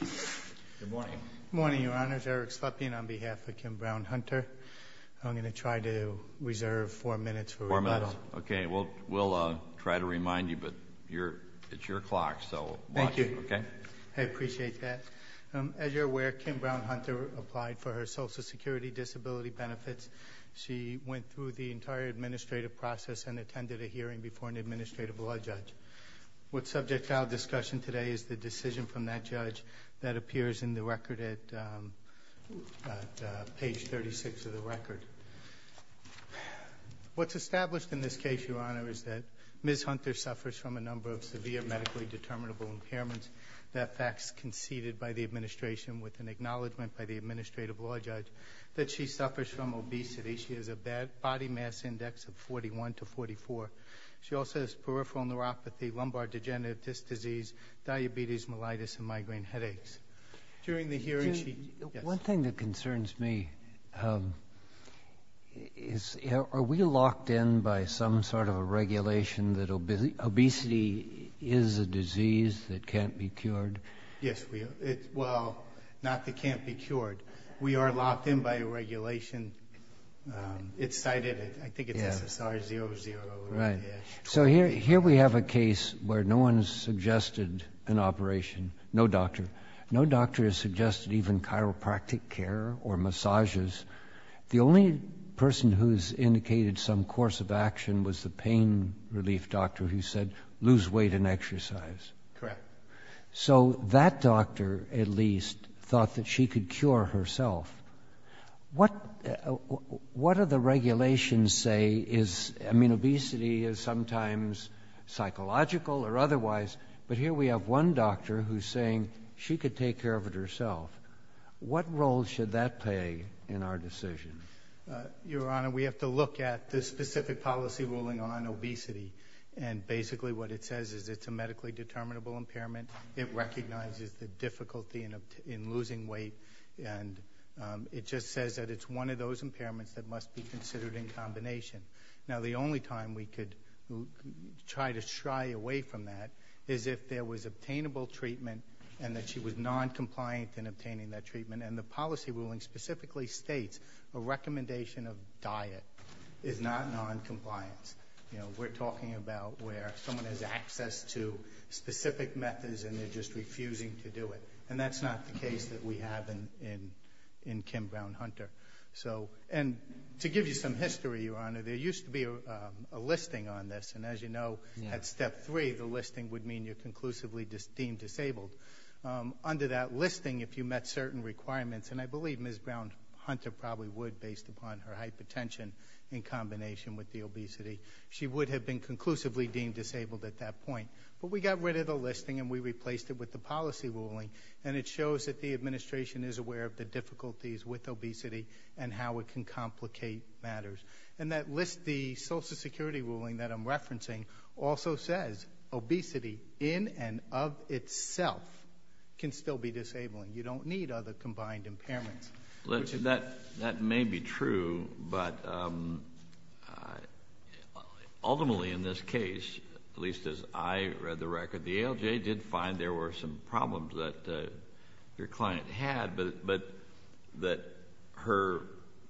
Good morning. Good morning, Your Honors. Eric Slepian on behalf of Kim Brown-Hunter. I'm going to try to reserve four minutes for rebuttal. Four minutes. Okay. We'll try to remind you, but it's your clock, so watch. Thank you. Okay? I appreciate that. As you're aware, Kim Brown-Hunter applied for her Social Security Disability benefits. She went through the entire administrative process and attended a hearing before an administrative law judge. What's subject to our discussion today is the decision from that judge that appears in the record at page 36 of the record. What's established in this case, Your Honor, is that Ms. Hunter suffers from a number of severe medically determinable impairments. That fact is conceded by the administration with an acknowledgement by the administrative law judge that she suffers from obesity. She has a body mass index of 41 to 44. She also has peripheral neuropathy, lumbar degenerative disc disease, diabetes, mellitus, and migraine headaches. During the hearing, she- One thing that concerns me is are we locked in by some sort of a regulation that obesity is a disease that can't be cured? Yes, we are. Well, not that it can't be cured. We are locked in by a regulation. It's cited. I think it's SSR00. Right. So here we have a case where no one has suggested an operation, no doctor. No doctor has suggested even chiropractic care or massages. The only person who's indicated some course of action was the pain relief doctor who said lose weight and exercise. Correct. So that doctor, at least, thought that she could cure herself. What do the regulations say is-I mean, obesity is sometimes psychological or otherwise, but here we have one doctor who's saying she could take care of it herself. What role should that play in our decision? Your Honor, we have to look at the specific policy ruling on obesity, and basically what it says is it's a medically determinable impairment. It recognizes the difficulty in losing weight, and it just says that it's one of those impairments that must be considered in combination. Now, the only time we could try to shy away from that is if there was obtainable treatment and that she was noncompliant in obtaining that treatment, and the policy ruling specifically states a recommendation of diet is not noncompliance. We're talking about where someone has access to specific methods and they're just refusing to do it, and that's not the case that we have in Kim Brown-Hunter. And to give you some history, Your Honor, there used to be a listing on this, and as you know, at Step 3, the listing would mean you're conclusively deemed disabled. Under that listing, if you met certain requirements, and I believe Ms. Brown-Hunter probably would based upon her hypertension in combination with the obesity, she would have been conclusively deemed disabled at that point. But we got rid of the listing and we replaced it with the policy ruling, and it shows that the administration is aware of the difficulties with obesity and how it can complicate matters. And that list, the Social Security ruling that I'm referencing, also says obesity in and of itself can still be disabling. You don't need other combined impairments. That may be true, but ultimately in this case, at least as I read the record, the ALJ did find there were some problems that your client had, but that her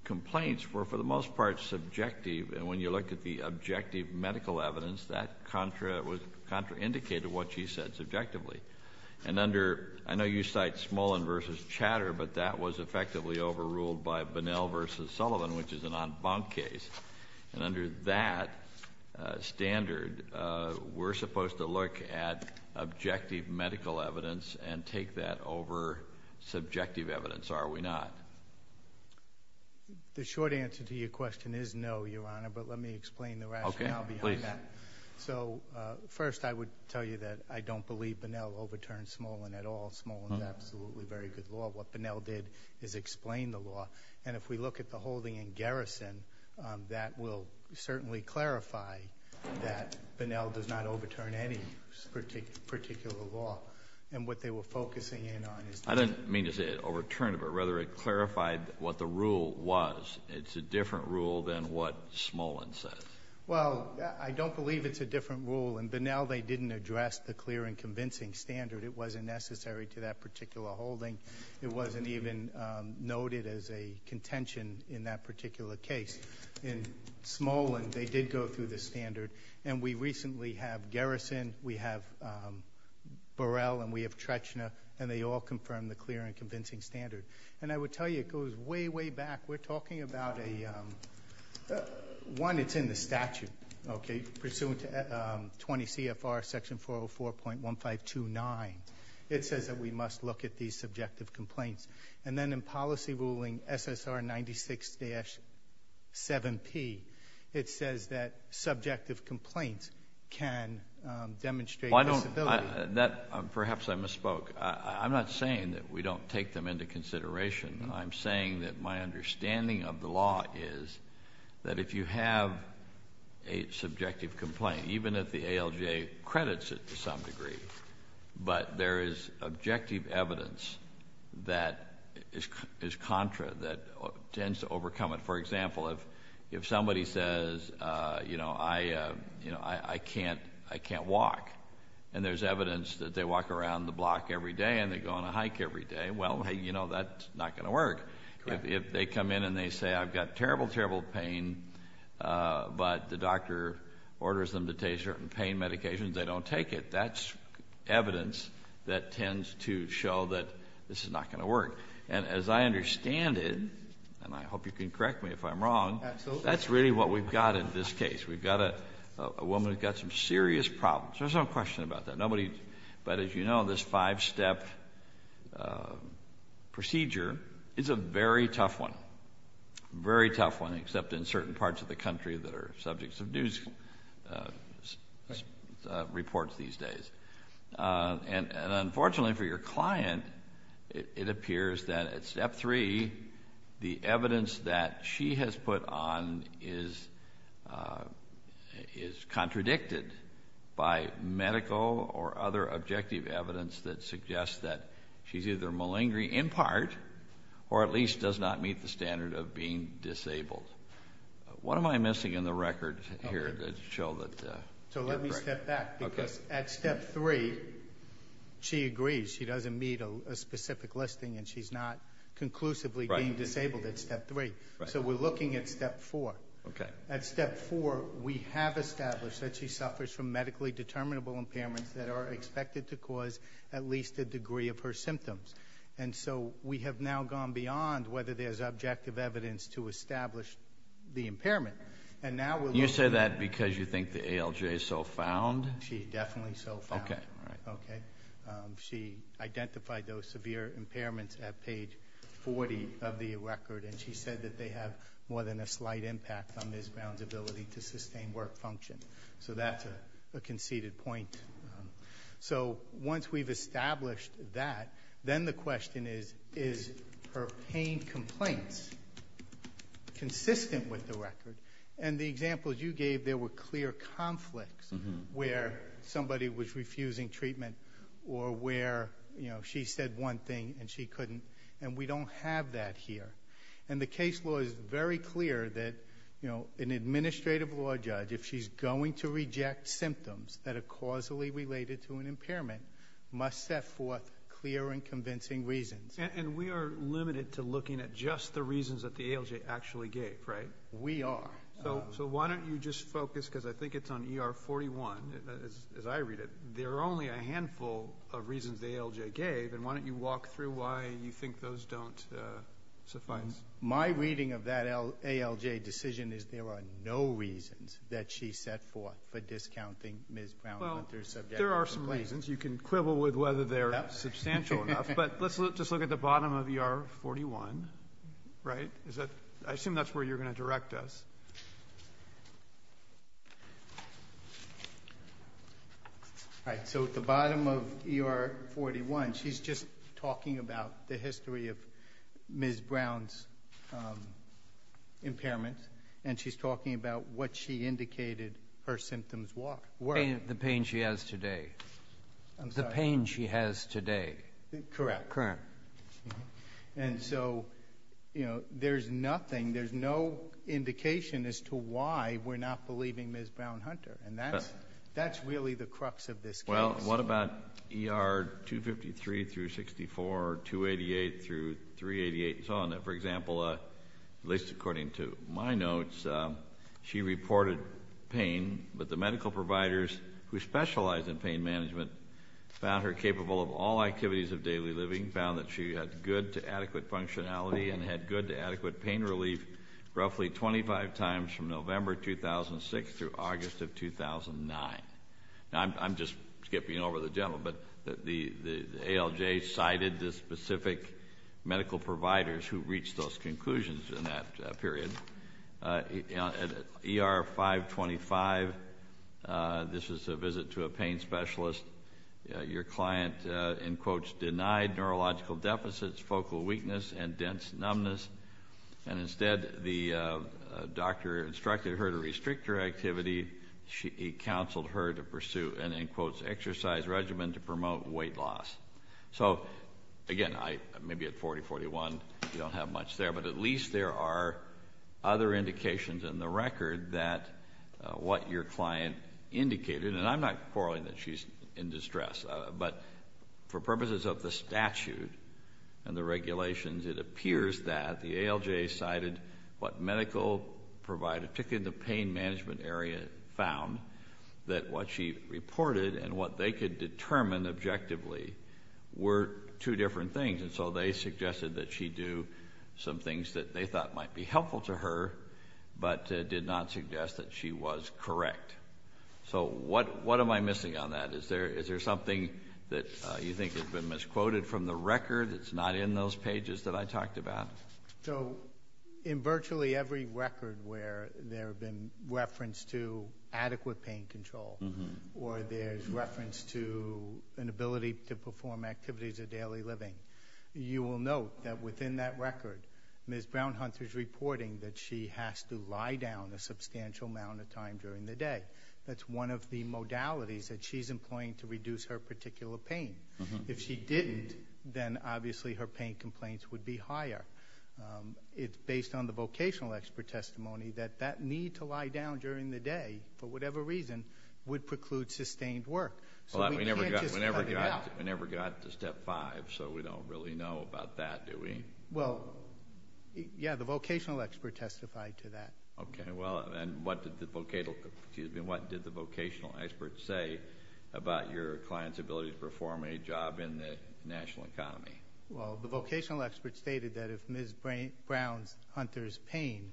complaints were for the most part subjective, and when you look at the objective medical evidence, that contraindicated what she said subjectively. And under, I know you cite Smolin v. Chatter, but that was effectively overruled by Bunnell v. Sullivan, which is an en banc case. And under that standard, we're supposed to look at objective medical evidence and take that over subjective evidence, are we not? The short answer to your question is no, Your Honor, but let me explain the rationale behind that. So first I would tell you that I don't believe Bunnell overturned Smolin at all. Smolin's absolutely very good law. What Bunnell did is explain the law. And if we look at the holding in Garrison, that will certainly clarify that Bunnell does not overturn any particular law. And what they were focusing in on is that. I didn't mean to say it overturned it, but rather it clarified what the rule was. It's a different rule than what Smolin says. Well, I don't believe it's a different rule. In Bunnell, they didn't address the clear and convincing standard. It wasn't necessary to that particular holding. It wasn't even noted as a contention in that particular case. In Smolin, they did go through the standard. And we recently have Garrison, we have Burrell, and we have Trechner, and they all confirm the clear and convincing standard. And I would tell you it goes way, way back. We're talking about a one that's in the statute. Okay. Pursuant to 20 CFR section 404.1529, it says that we must look at these subjective complaints. And then in policy ruling SSR 96-7P, it says that subjective complaints can demonstrate possibility. Well, I don't. Perhaps I misspoke. I'm not saying that we don't take them into consideration. I'm saying that my understanding of the law is that if you have a subjective complaint, even if the ALJ credits it to some degree, but there is objective evidence that is contra, that tends to overcome it. For example, if somebody says, you know, I can't walk, and there's evidence that they walk around the block every day and they go on a hike every day, well, hey, you know, that's not going to work. Correct. If they come in and they say, I've got terrible, terrible pain, but the doctor orders them to take certain pain medications, they don't take it, that's evidence that tends to show that this is not going to work. And as I understand it, and I hope you can correct me if I'm wrong. Absolutely. That's really what we've got in this case. We've got a woman who's got some serious problems. There's no question about that. But as you know, this five-step procedure is a very tough one. Very tough one, except in certain parts of the country that are subjects of news reports these days. And unfortunately for your client, it appears that at step three, the evidence that she has put on is contradicted by medical or other objective evidence that suggests that she's either malingering in part or at least does not meet the standard of being disabled. What am I missing in the record here to show that? So let me step back. Okay. Because at step three, she agrees. She doesn't meet a specific listing and she's not conclusively being disabled at step three. So we're looking at step four. Okay. At step four, we have established that she suffers from medically determinable impairments that are expected to cause at least a degree of her symptoms. And so we have now gone beyond whether there's objective evidence to establish the impairment. You say that because you think the ALJ is so found? She is definitely so found. Okay. All right. Okay. She identified those severe impairments at page 40 of the record, and she said that they have more than a slight impact on Ms. Brown's ability to sustain work function. So that's a conceded point. So once we've established that, then the question is, is her pain complaints consistent with the record? And the examples you gave, there were clear conflicts where somebody was in pain or where she said one thing and she couldn't, and we don't have that here. And the case law is very clear that an administrative law judge, if she's going to reject symptoms that are causally related to an impairment, must set forth clear and convincing reasons. And we are limited to looking at just the reasons that the ALJ actually gave, right? We are. So why don't you just focus, because I think it's on ER 41, as I read it. There are only a handful of reasons the ALJ gave, and why don't you walk through why you think those don't suffice? My reading of that ALJ decision is there are no reasons that she set forth for discounting Ms. Brown Hunter's subjective complaints. Well, there are some reasons. You can quibble with whether they're substantial enough. But let's just look at the bottom of ER 41, right? I assume that's where you're going to direct us. All right. So at the bottom of ER 41, she's just talking about the history of Ms. Brown's impairment, and she's talking about what she indicated her symptoms were. The pain she has today. I'm sorry? The pain she has today. Correct. Correct. And so, you know, there's nothing, there's no indication as to why we're not believing Ms. Brown Hunter. And that's really the crux of this case. Well, what about ER 253 through 64, 288 through 388, and so on? For example, at least according to my notes, she reported pain, but the medical providers who specialize in pain management found her capable of all activities of daily living, found that she had good to adequate functionality and had good to adequate pain relief roughly 25 times from November 2006 through August of 2009. Now, I'm just skipping over the gentleman, but the ALJ cited the specific medical providers who reached those conclusions in that period. At ER 525, this is a visit to a pain specialist, your client, in quotes, denied neurological deficits, focal weakness, and dense numbness, and instead the doctor instructed her to restrict her activity. He counseled her to pursue an, in quotes, exercise regimen to promote weight loss. So, again, maybe at 40, 41, you don't have much there, but at least there are other indications in the record that what your client indicated, and I'm not quarreling that she's in distress, but for purposes of the statute and the regulations, it appears that the ALJ cited what medical providers, particularly in the pain management area, found, that what she reported and what they could determine objectively were two different things, and so they suggested that she do some things that they thought might be helpful to her but did not suggest that she was correct. So what am I missing on that? Is there something that you think has been misquoted from the record that's not in those pages that I talked about? So in virtually every record where there have been reference to adequate pain control or there's reference to an ability to perform activities of daily living, you will note that within that record, Ms. Brownhunter's reporting that she has to lie down a substantial amount of time during the day. That's one of the modalities that she's employing to reduce her particular pain. If she didn't, then obviously her pain complaints would be higher. It's based on the vocational expert testimony that that need to lie down during the day, for whatever reason, would preclude sustained work. So we can't just cut it out. We never got to step five, so we don't really know about that, do we? Well, yeah, the vocational expert testified to that. Okay, well, and what did the vocational expert say about your client's ability to perform a job in the national economy? Well, the vocational expert stated that if Ms. Brownhunter's pain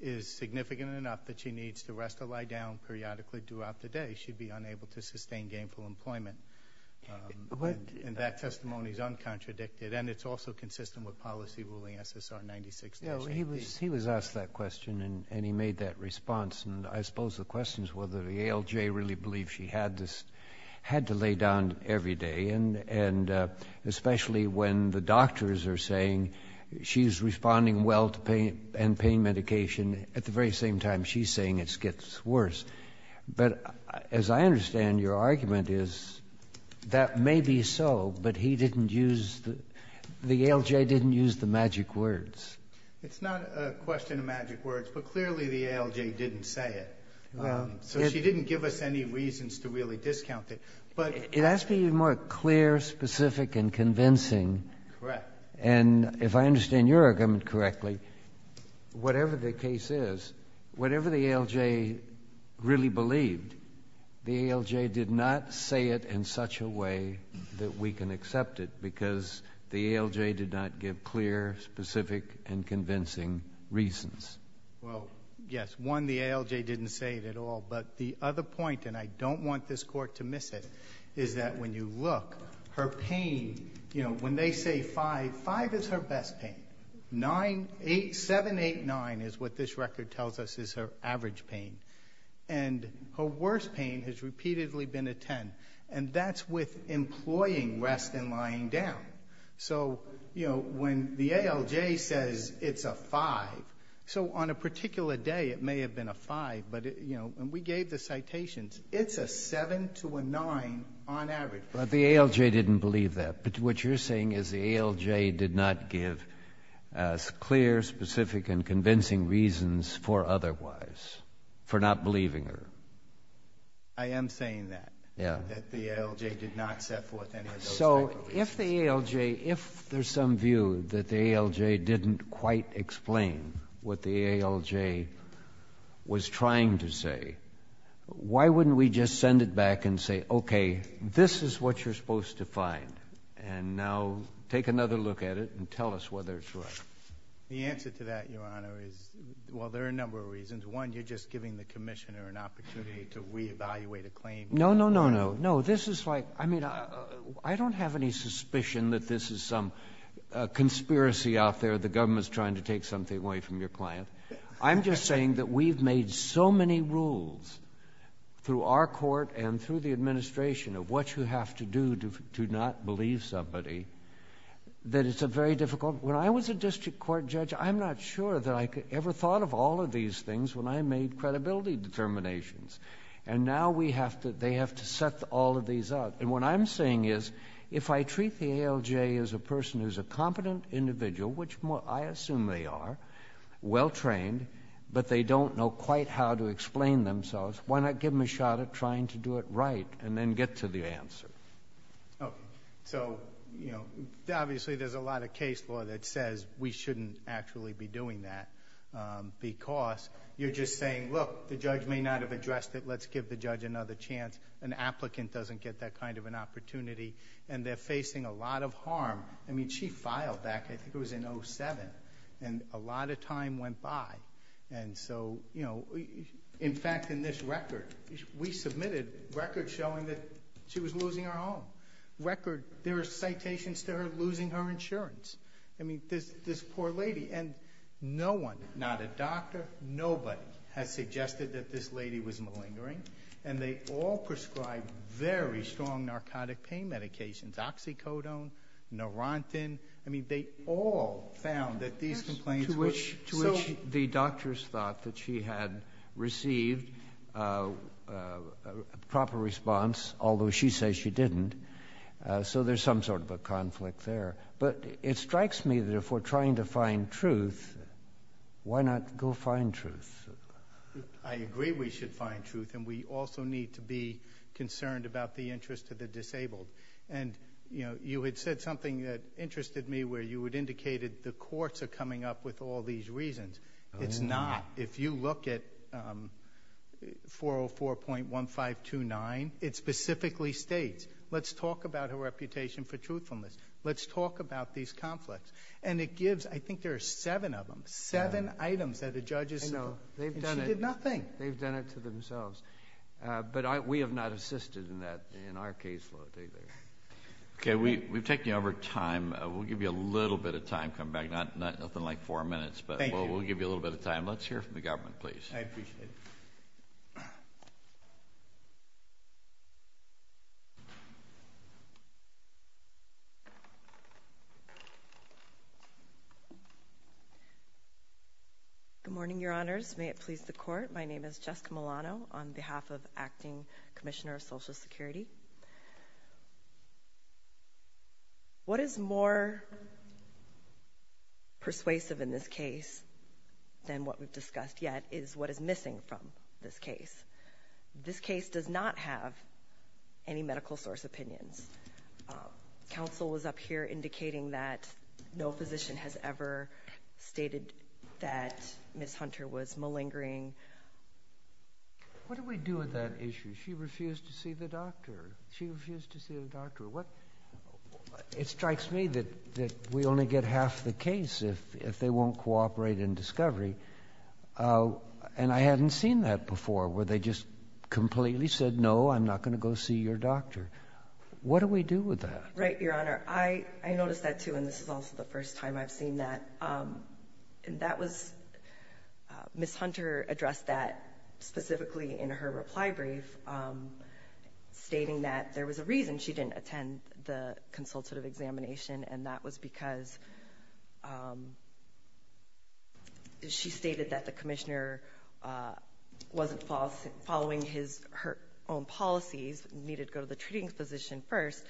is significant enough that she needs to rest or lie down periodically throughout the day, she'd be unable to sustain gainful employment. And that testimony is uncontradicted, and it's also consistent with policy ruling SSR 96-1. He was asked that question, and he made that response. And I suppose the question is whether the ALJ really believed she had to lay down every day, and especially when the doctors are saying she's responding well to pain and pain medication, at the very same time she's saying it gets worse. But as I understand your argument is that may be so, but he didn't use the ALJ didn't use the magic words. It's not a question of magic words, but clearly the ALJ didn't say it. So she didn't give us any reasons to really discount it. It has to be more clear, specific and convincing. Correct. And if I understand your argument correctly, whatever the case is, whatever the ALJ really believed, the ALJ did not say it in such a way that we can accept it because the ALJ did not give clear, specific and convincing reasons. Well, yes. One, the ALJ didn't say it at all, but the other point, and I don't want this Court to miss it, is that when you look, her pain, you know, when they say 5, 5 is her best pain. 9, 8, 7, 8, 9 is what this record tells us is her average pain. And her worst pain has repeatedly been a 10, and that's with employing rest and lying down. So, you know, when the ALJ says it's a 5, so on a particular day it may have been a 5, but, you know, and we gave the citations, it's a 7 to a 9 on average. But the ALJ didn't believe that, but what you're saying is the ALJ did not give clear, specific and convincing reasons for otherwise, for not believing her. I am saying that. Yeah. That the ALJ did not set forth any of those type of reasons. So if the ALJ, if there's some view that the ALJ didn't quite explain what the ALJ was trying to say, why wouldn't we just send it back and say, okay, this is what you're supposed to find. And now take another look at it and tell us whether it's right. The answer to that, Your Honor, is, well, there are a number of reasons. One, you're just giving the Commissioner an opportunity to reevaluate a claim. No, no, no, no. No, this is like, I mean, I don't have any suspicion that this is some conspiracy out there. The government's trying to take something away from your client. I'm just saying that we've made so many rules through our court and through the administration of what you have to do to not believe somebody that it's a very difficult. When I was a district court judge, I'm not sure that I ever thought of all of these things when I made credibility determinations. And now we have to, they have to set all of these up. And what I'm saying is, if I treat the ALJ as a person who's a competent individual, which I assume they are, well-trained, but they don't know quite how to explain themselves, why not give them a shot at trying to do it right and then get to the answer? Okay. So, you know, obviously, there's a lot of case law that says we shouldn't actually be doing that because you're just saying, look, the judge may not have addressed it, let's give the judge another chance. An applicant doesn't get that kind of an opportunity. And they're facing a lot of harm. I mean, she filed that. I think it was in 07. And a lot of time went by. And so, you know, in fact, in this record, we submitted records showing that she was losing her home. Record, there are citations to her losing her insurance. I mean, this poor lady. And no one, not a doctor, nobody, has suggested that this lady was malingering. And they all prescribed very strong narcotic pain medications, oxycodone, norentin. I mean, they all found that these complaints were so. To which the doctors thought that she had received a proper response, although she says she didn't. So there's some sort of a conflict there. But it strikes me that if we're trying to find truth, why not go find truth? I agree we should find truth. And we also need to be concerned about the interest of the disabled. And, you know, you had said something that interested me where you had indicated the courts are coming up with all these reasons. It's not. If you look at 404.1529, it specifically states, let's talk about her reputation for truthfulness. Let's talk about these conflicts. And it gives, I think there are seven of them, seven items that a judge has said. And she did nothing. They've done it to themselves. But we have not assisted in that in our caseload either. Okay. We've taken over time. We'll give you a little bit of time. Come back. Nothing like four minutes. Thank you. But we'll give you a little bit of time. Let's hear from the government, please. I appreciate it. Good morning, Your Honors. May it please the Court. My name is Jessica Milano on behalf of Acting Commissioner of Social Security. What is more persuasive in this case than what we've discussed yet is what is missing from this case. This case does not have any medical source opinions. Counsel was up here indicating that no physician has ever stated that Ms. Hunter was malingering. What do we do with that issue? She refused to see the doctor. She refused to see the doctor. It strikes me that we only get half the case if they won't cooperate in discovery. And I hadn't seen that before, where they just completely said, no, I'm not going to go see your doctor. What do we do with that? Right, Your Honor. I noticed that, too, and this is also the first time I've seen that. And that was Ms. Hunter addressed that specifically in her reply brief, stating that there was a reason she didn't attend the consultative examination, and that was because she stated that the commissioner wasn't following his or her own policies, needed to go to the treating physician first.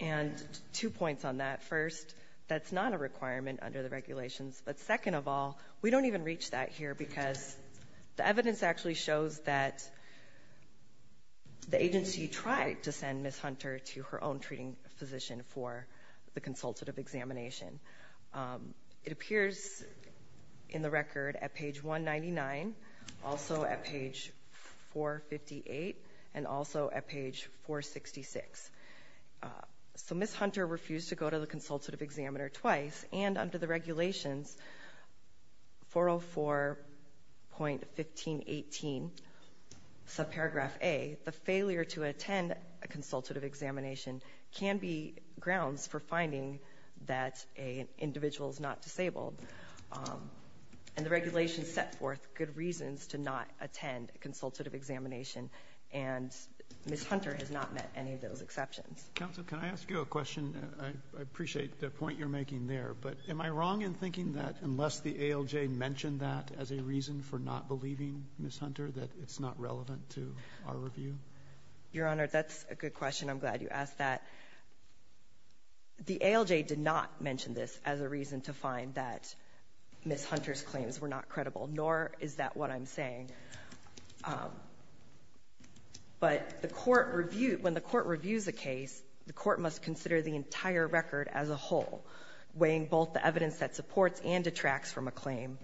And two points on that. First, that's not a requirement under the regulations. But second of all, we don't even reach that here because the evidence actually shows that the agency tried to send Ms. Hunter to her own treating physician for the consultative examination. It appears in the record at page 199, also at page 458, and also at page 466. So Ms. Hunter refused to go to the consultative examiner twice, and under the regulations, 404.1518, subparagraph A, the failure to attend a consultative examination can be grounds for finding that an individual is not disabled. And the regulations set forth good reasons to not attend a consultative examination, and Ms. Hunter has not met any of those exceptions. Roberts, counsel, can I ask you a question? I appreciate the point you're making there. But am I wrong in thinking that unless the ALJ mentioned that as a reason for not believing Ms. Hunter, that it's not relevant to our review? Your Honor, that's a good question. I'm glad you asked that. The ALJ did not mention this as a reason to find that Ms. Hunter's claims were not credible, nor is that what I'm saying. But the Court reviewed – when the Court reviews a case, the Court must consider the entire record as a whole, weighing both the evidence that supports and detracts from a claim.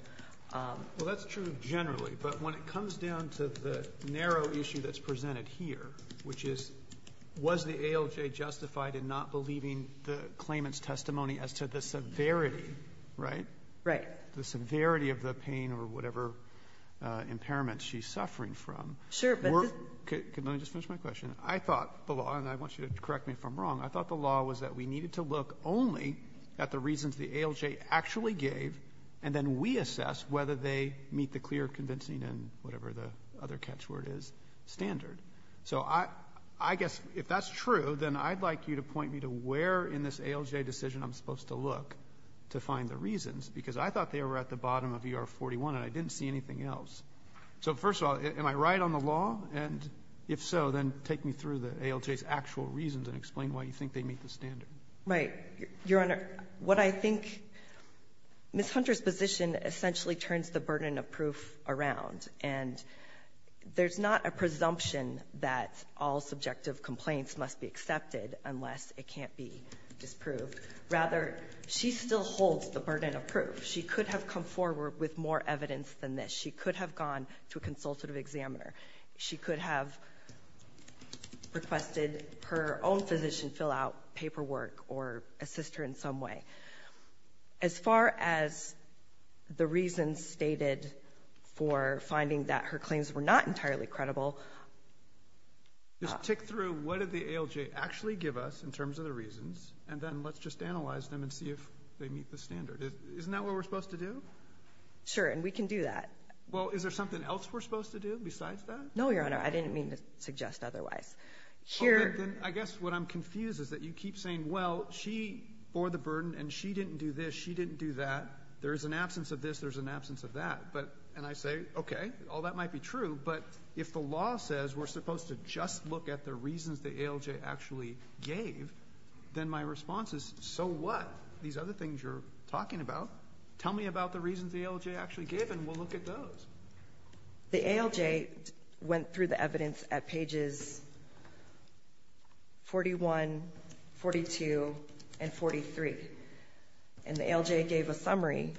Well, that's true generally. But when it comes down to the narrow issue that's presented here, which is was the ALJ justified in not believing the claimant's testimony as to the severity, right? Right. The severity of the pain or whatever impairment she's suffering from were – Sure, but this – Let me just finish my question. I thought the law – and I want you to correct me if I'm wrong – I thought the law was that we needed to look only at the reasons the ALJ actually gave, and then we assess whether they meet the clear, convincing, and whatever the other catchword is, standard. So I guess if that's true, then I'd like you to point me to where in this ALJ decision I'm supposed to look to find the reasons, because I thought they were at the bottom of ER-41, and I didn't see anything else. So, first of all, am I right on the law? And if so, then take me through the ALJ's actual reasons and explain why you think they meet the standard. Right. Your Honor, what I think Ms. Hunter's position essentially turns the burden of proof around, and there's not a presumption that all subjective complaints must be accepted unless it can't be disproved. Rather, she still holds the burden of proof. She could have come forward with more evidence than this. She could have gone to a consultative examiner. She could have requested her own physician fill out paperwork or assist her in some way. As far as the reasons stated for finding that her claims were not entirely credible – So, what does the ALJ actually give us in terms of the reasons, and then let's just analyze them and see if they meet the standard? Isn't that what we're supposed to do? Sure. And we can do that. Well, is there something else we're supposed to do besides that? No, Your Honor. I didn't mean to suggest otherwise. Okay. Then I guess what I'm confused is that you keep saying, well, she bore the burden and she didn't do this, she didn't do that. There is an absence of this, there's an absence of that. But – and I say, okay, all that might be true. But if the law says we're supposed to just look at the reasons the ALJ actually gave, then my response is, so what? These other things you're talking about, tell me about the reasons the ALJ actually gave and we'll look at those. The ALJ went through the evidence at pages 41, 42, and 43. And the ALJ gave a summary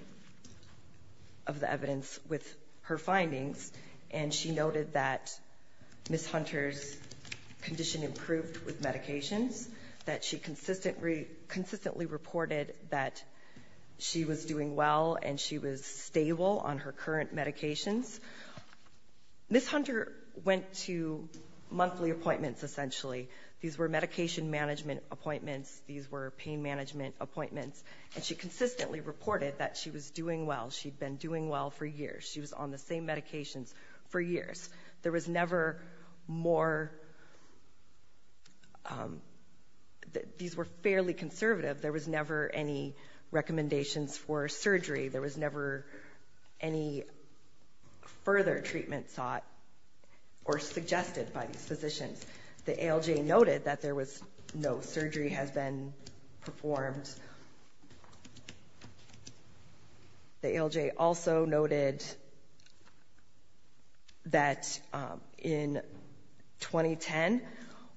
of the evidence with her findings, and she noted that Ms. Hunter's condition improved with medications, that she consistently reported that she was doing well and she was stable on her current medications. Ms. Hunter went to monthly appointments, essentially. These were medication management appointments. These were pain management appointments. And she consistently reported that she was doing well. She'd been doing well for years. She was on the same medications for years. There was never more – these were fairly conservative. There was never any recommendations for surgery. There was never any further treatment sought or suggested by these physicians. The ALJ noted that there was no surgery has been performed. The ALJ also noted that in 2010,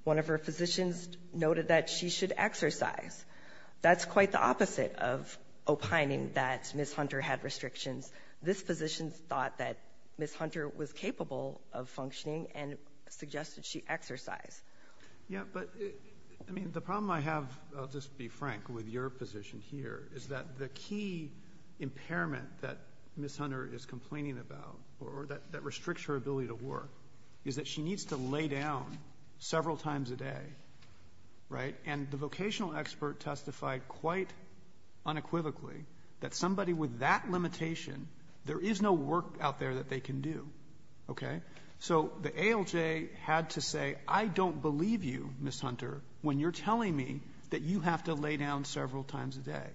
one of her physicians noted that she should exercise. That's quite the opposite of opining that Ms. Hunter had restrictions. This physician thought that Ms. Hunter was capable of functioning and suggested she exercise. Yeah, but, I mean, the problem I have, I'll just be frank with your position here, is that the key impairment that Ms. Hunter is complaining about or that restricts her ability to work is that she needs to lay down several times a day, right? And the vocational expert testified quite unequivocally that somebody with that limitation, there is no work out there that they can do, okay? So the ALJ had to say, I don't believe you, Ms. Hunter, when you're telling me that you have to lay down several times a day.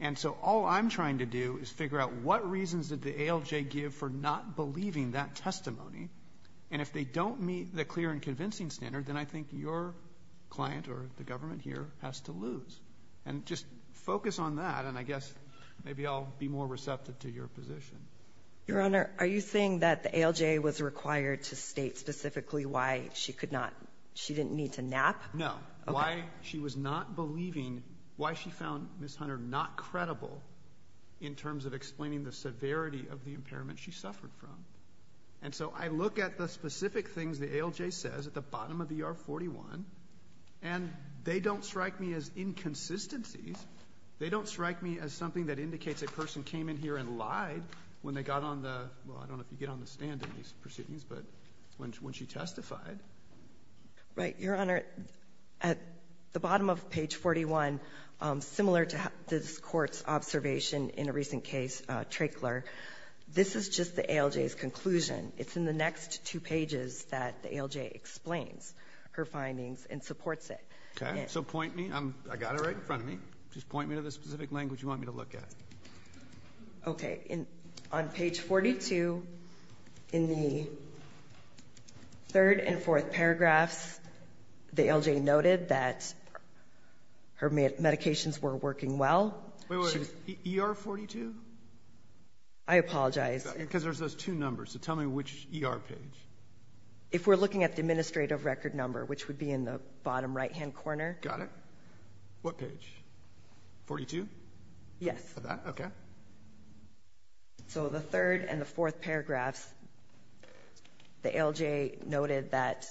And so all I'm trying to do is figure out what reasons did the ALJ give for not believing that testimony. And if they don't meet the clear and convincing standard, then I think your client or the government here has to lose. And just focus on that, and I guess maybe I'll be more receptive to your position. Your Honor, are you saying that the ALJ was required to state specifically why she could not, she didn't need to nap? No. Okay. Why she was not believing, why she found Ms. Hunter not credible in terms of explaining the severity of the impairment she suffered from. And so I look at the specific things the ALJ says at the bottom of the R41, and they don't strike me as inconsistencies. They don't strike me as something that indicates a person came in here and lied when they got on the, well, I don't know if you get on the stand in these proceedings, but when she testified. Right. Your Honor, at the bottom of page 41, similar to this Court's observation in a recent case, Trachler, this is just the ALJ's conclusion. It's in the next two pages that the ALJ explains her findings and supports it. Okay. So point me. I got it right in front of me. Just point me to the specific language you want me to look at. Okay. On page 42, in the third and fourth paragraphs, the ALJ noted that her medications were working well. Wait, wait. ER 42? I apologize. Because there's those two numbers. So tell me which ER page. If we're looking at the administrative record number, which would be in the bottom right-hand corner. Got it. What page? 42? Yes. Okay. So the third and the fourth paragraphs, the ALJ noted that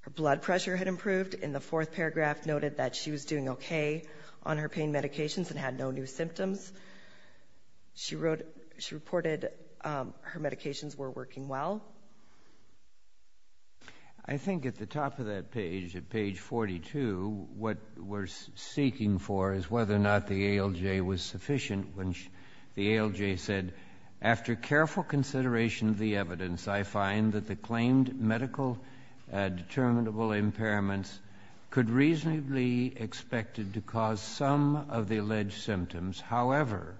her blood pressure had improved. In the fourth paragraph noted that she was doing okay on her pain medications and had no new symptoms. She wrote, she reported her medications were working well. I think at the top of that page, at page 42, what we're seeking for is whether or not the ALJ was sufficient when the ALJ said, after careful consideration of the evidence, I find that the claimed medical determinable impairments could reasonably be expected to cause some of the alleged symptoms. However,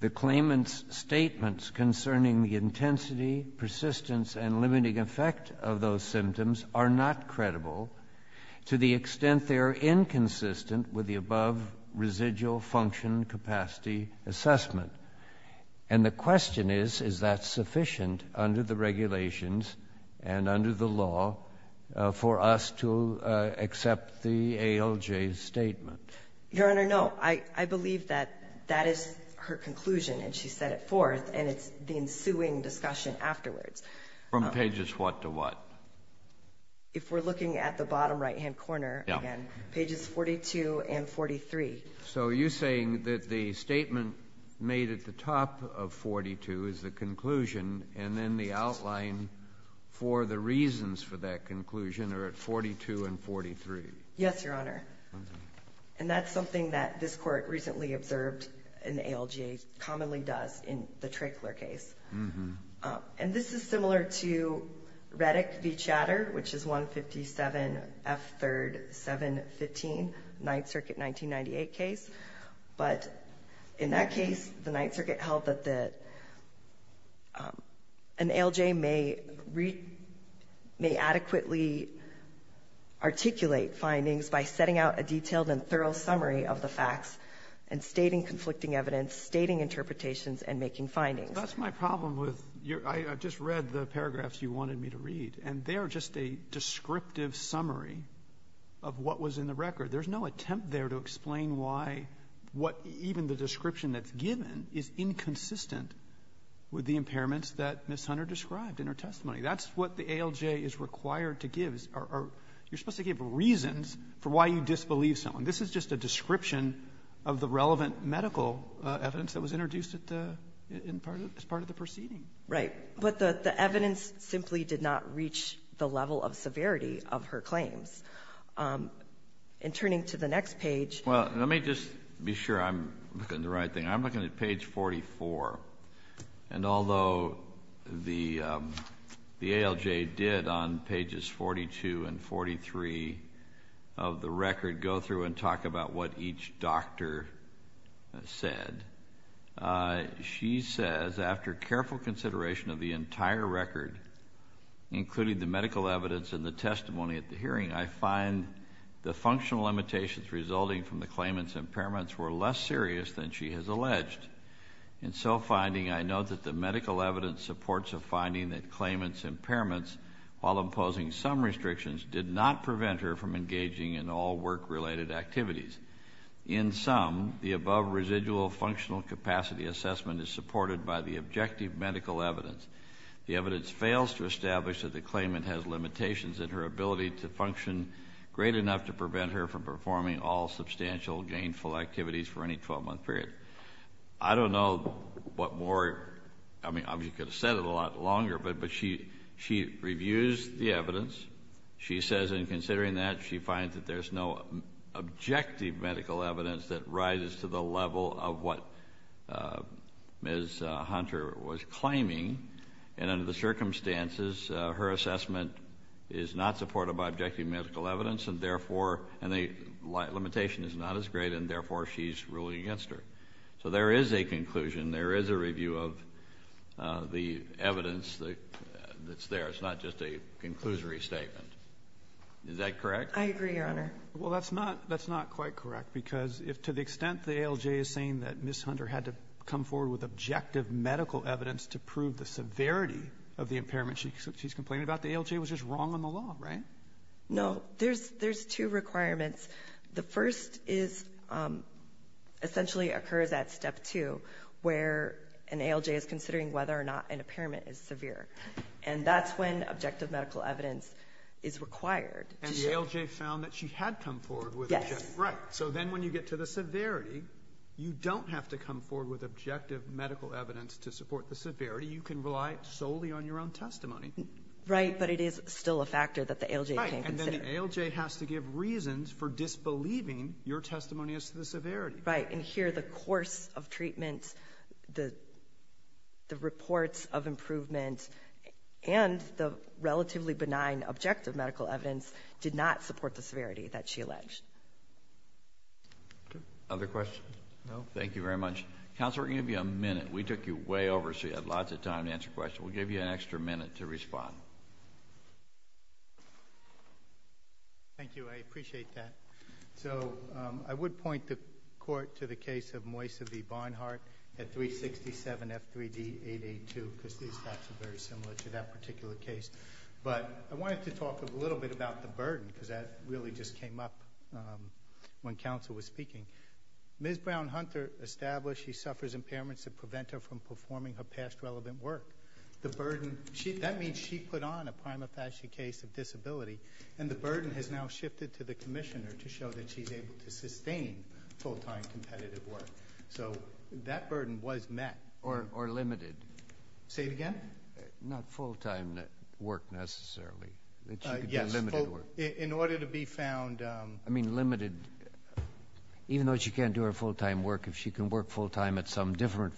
the claimant's statements concerning the intensity, persistence, and limiting effect of those symptoms are not credible to the extent they are inconsistent with the above residual function capacity assessment. And the question is, is that sufficient under the regulations and under the law for us to accept the ALJ's statement? Your Honor, no. I believe that that is her conclusion, and she set it forth. And it's the ensuing discussion afterwards. From pages what to what? If we're looking at the bottom right-hand corner again, pages 42 and 43. So you're saying that the statement made at the top of 42 is the conclusion, and then the outline for the reasons for that conclusion are at 42 and 43? Yes, Your Honor. And that's something that this Court recently observed an ALJ commonly does in the Trickler case. And this is similar to Reddick v. Chatter, which is 157 F. 3rd. 715, Ninth Circuit 1998 case. But in that case, the Ninth Circuit held that the ALJ may adequately articulate findings by setting out a detailed and thorough summary of the facts and stating conflicting evidence, stating interpretations, and making findings. So that's my problem with your — I just read the paragraphs you wanted me to read, and they are just a descriptive summary of what was in the record. There's no attempt there to explain why what even the description that's given is inconsistent with the impairments that Ms. Hunter described in her testimony. That's what the ALJ is required to give, or you're supposed to give reasons for why you disbelieve someone. This is just a description of the relevant medical evidence that was introduced at the — as part of the proceeding. Right. But the evidence simply did not reach the level of severity of her claims. In turning to the next page — Well, let me just be sure I'm looking at the right thing. I'm looking at page 44. And although the ALJ did on pages 42 and 43 of the record go through and talk about what each doctor said, she says, After careful consideration of the entire record, including the medical evidence and the testimony at the hearing, I find the functional limitations resulting from the medical evidence supports a finding that claimant's impairments, while imposing some restrictions, did not prevent her from engaging in all work-related activities. In sum, the above residual functional capacity assessment is supported by the objective medical evidence. The evidence fails to establish that the claimant has limitations in her ability to function great enough to prevent her from performing all substantial gainful activities for any 12-month period. I don't know what more — I mean, I could have said it a lot longer, but she reviews the evidence. She says, in considering that, she finds that there's no objective medical evidence that rises to the level of what Ms. Hunter was claiming. And under the circumstances, her assessment is not supported by objective medical evidence, and therefore, and the limitation is not as great, and therefore, she's ruling against her. So there is a conclusion. There is a review of the evidence that's there. It's not just a conclusory statement. Is that correct? I agree, Your Honor. Well, that's not — that's not quite correct, because if to the extent the ALJ is saying that Ms. Hunter had to come forward with objective medical evidence to prove the severity of the impairment she's complaining about, the ALJ was just wrong on the law, right? No. There's two requirements. The first is — essentially occurs at Step 2, where an ALJ is considering whether or not an impairment is severe. And that's when objective medical evidence is required. And the ALJ found that she had come forward with objective — Yes. Right. So then when you get to the severity, you don't have to come forward with objective medical evidence to support the severity. You can rely solely on your own testimony. Right. But it is still a factor that the ALJ came to consider. Right. And then the ALJ has to give reasons for disbelieving your testimony as to the severity. Right. And here the course of treatment, the reports of improvement, and the relatively benign objective medical evidence did not support the severity that she alleged. Okay. Other questions? No? Thank you very much. Counsel, we're going to give you a minute. We took you way over, so you had lots of time to answer questions. We'll give you an extra minute to respond. Thank you. I appreciate that. So I would point the court to the case of Moisa V. Barnhart at 367 F3D 882, because these facts are very similar to that particular case. But I wanted to talk a little bit about the burden, because that really just came up when counsel was speaking. Ms. Brown-Hunter established she suffers impairments that prevent her from performing her past relevant work. The burden she that means she put on a prima facie case of disability, and the burden has now shifted to the commissioner to show that she's able to sustain full-time competitive work. So that burden was met. Or limited. Say it again? Not full-time work, necessarily. Yes. In order to be found I mean, limited. Even though she can't do her full-time work, if she can work full-time at some different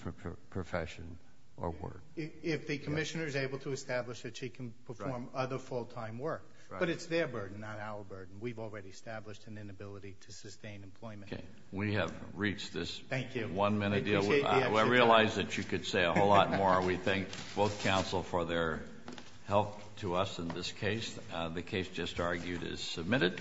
profession or work. If the commissioner is able to establish that she can perform other full-time work. But it's their burden, not our burden. We've already established an inability to sustain employment. Okay. We have reached this one-minute deal. I realize that you could say a whole lot more. We thank both counsel for their help to us in this case. The case just argued is submitted.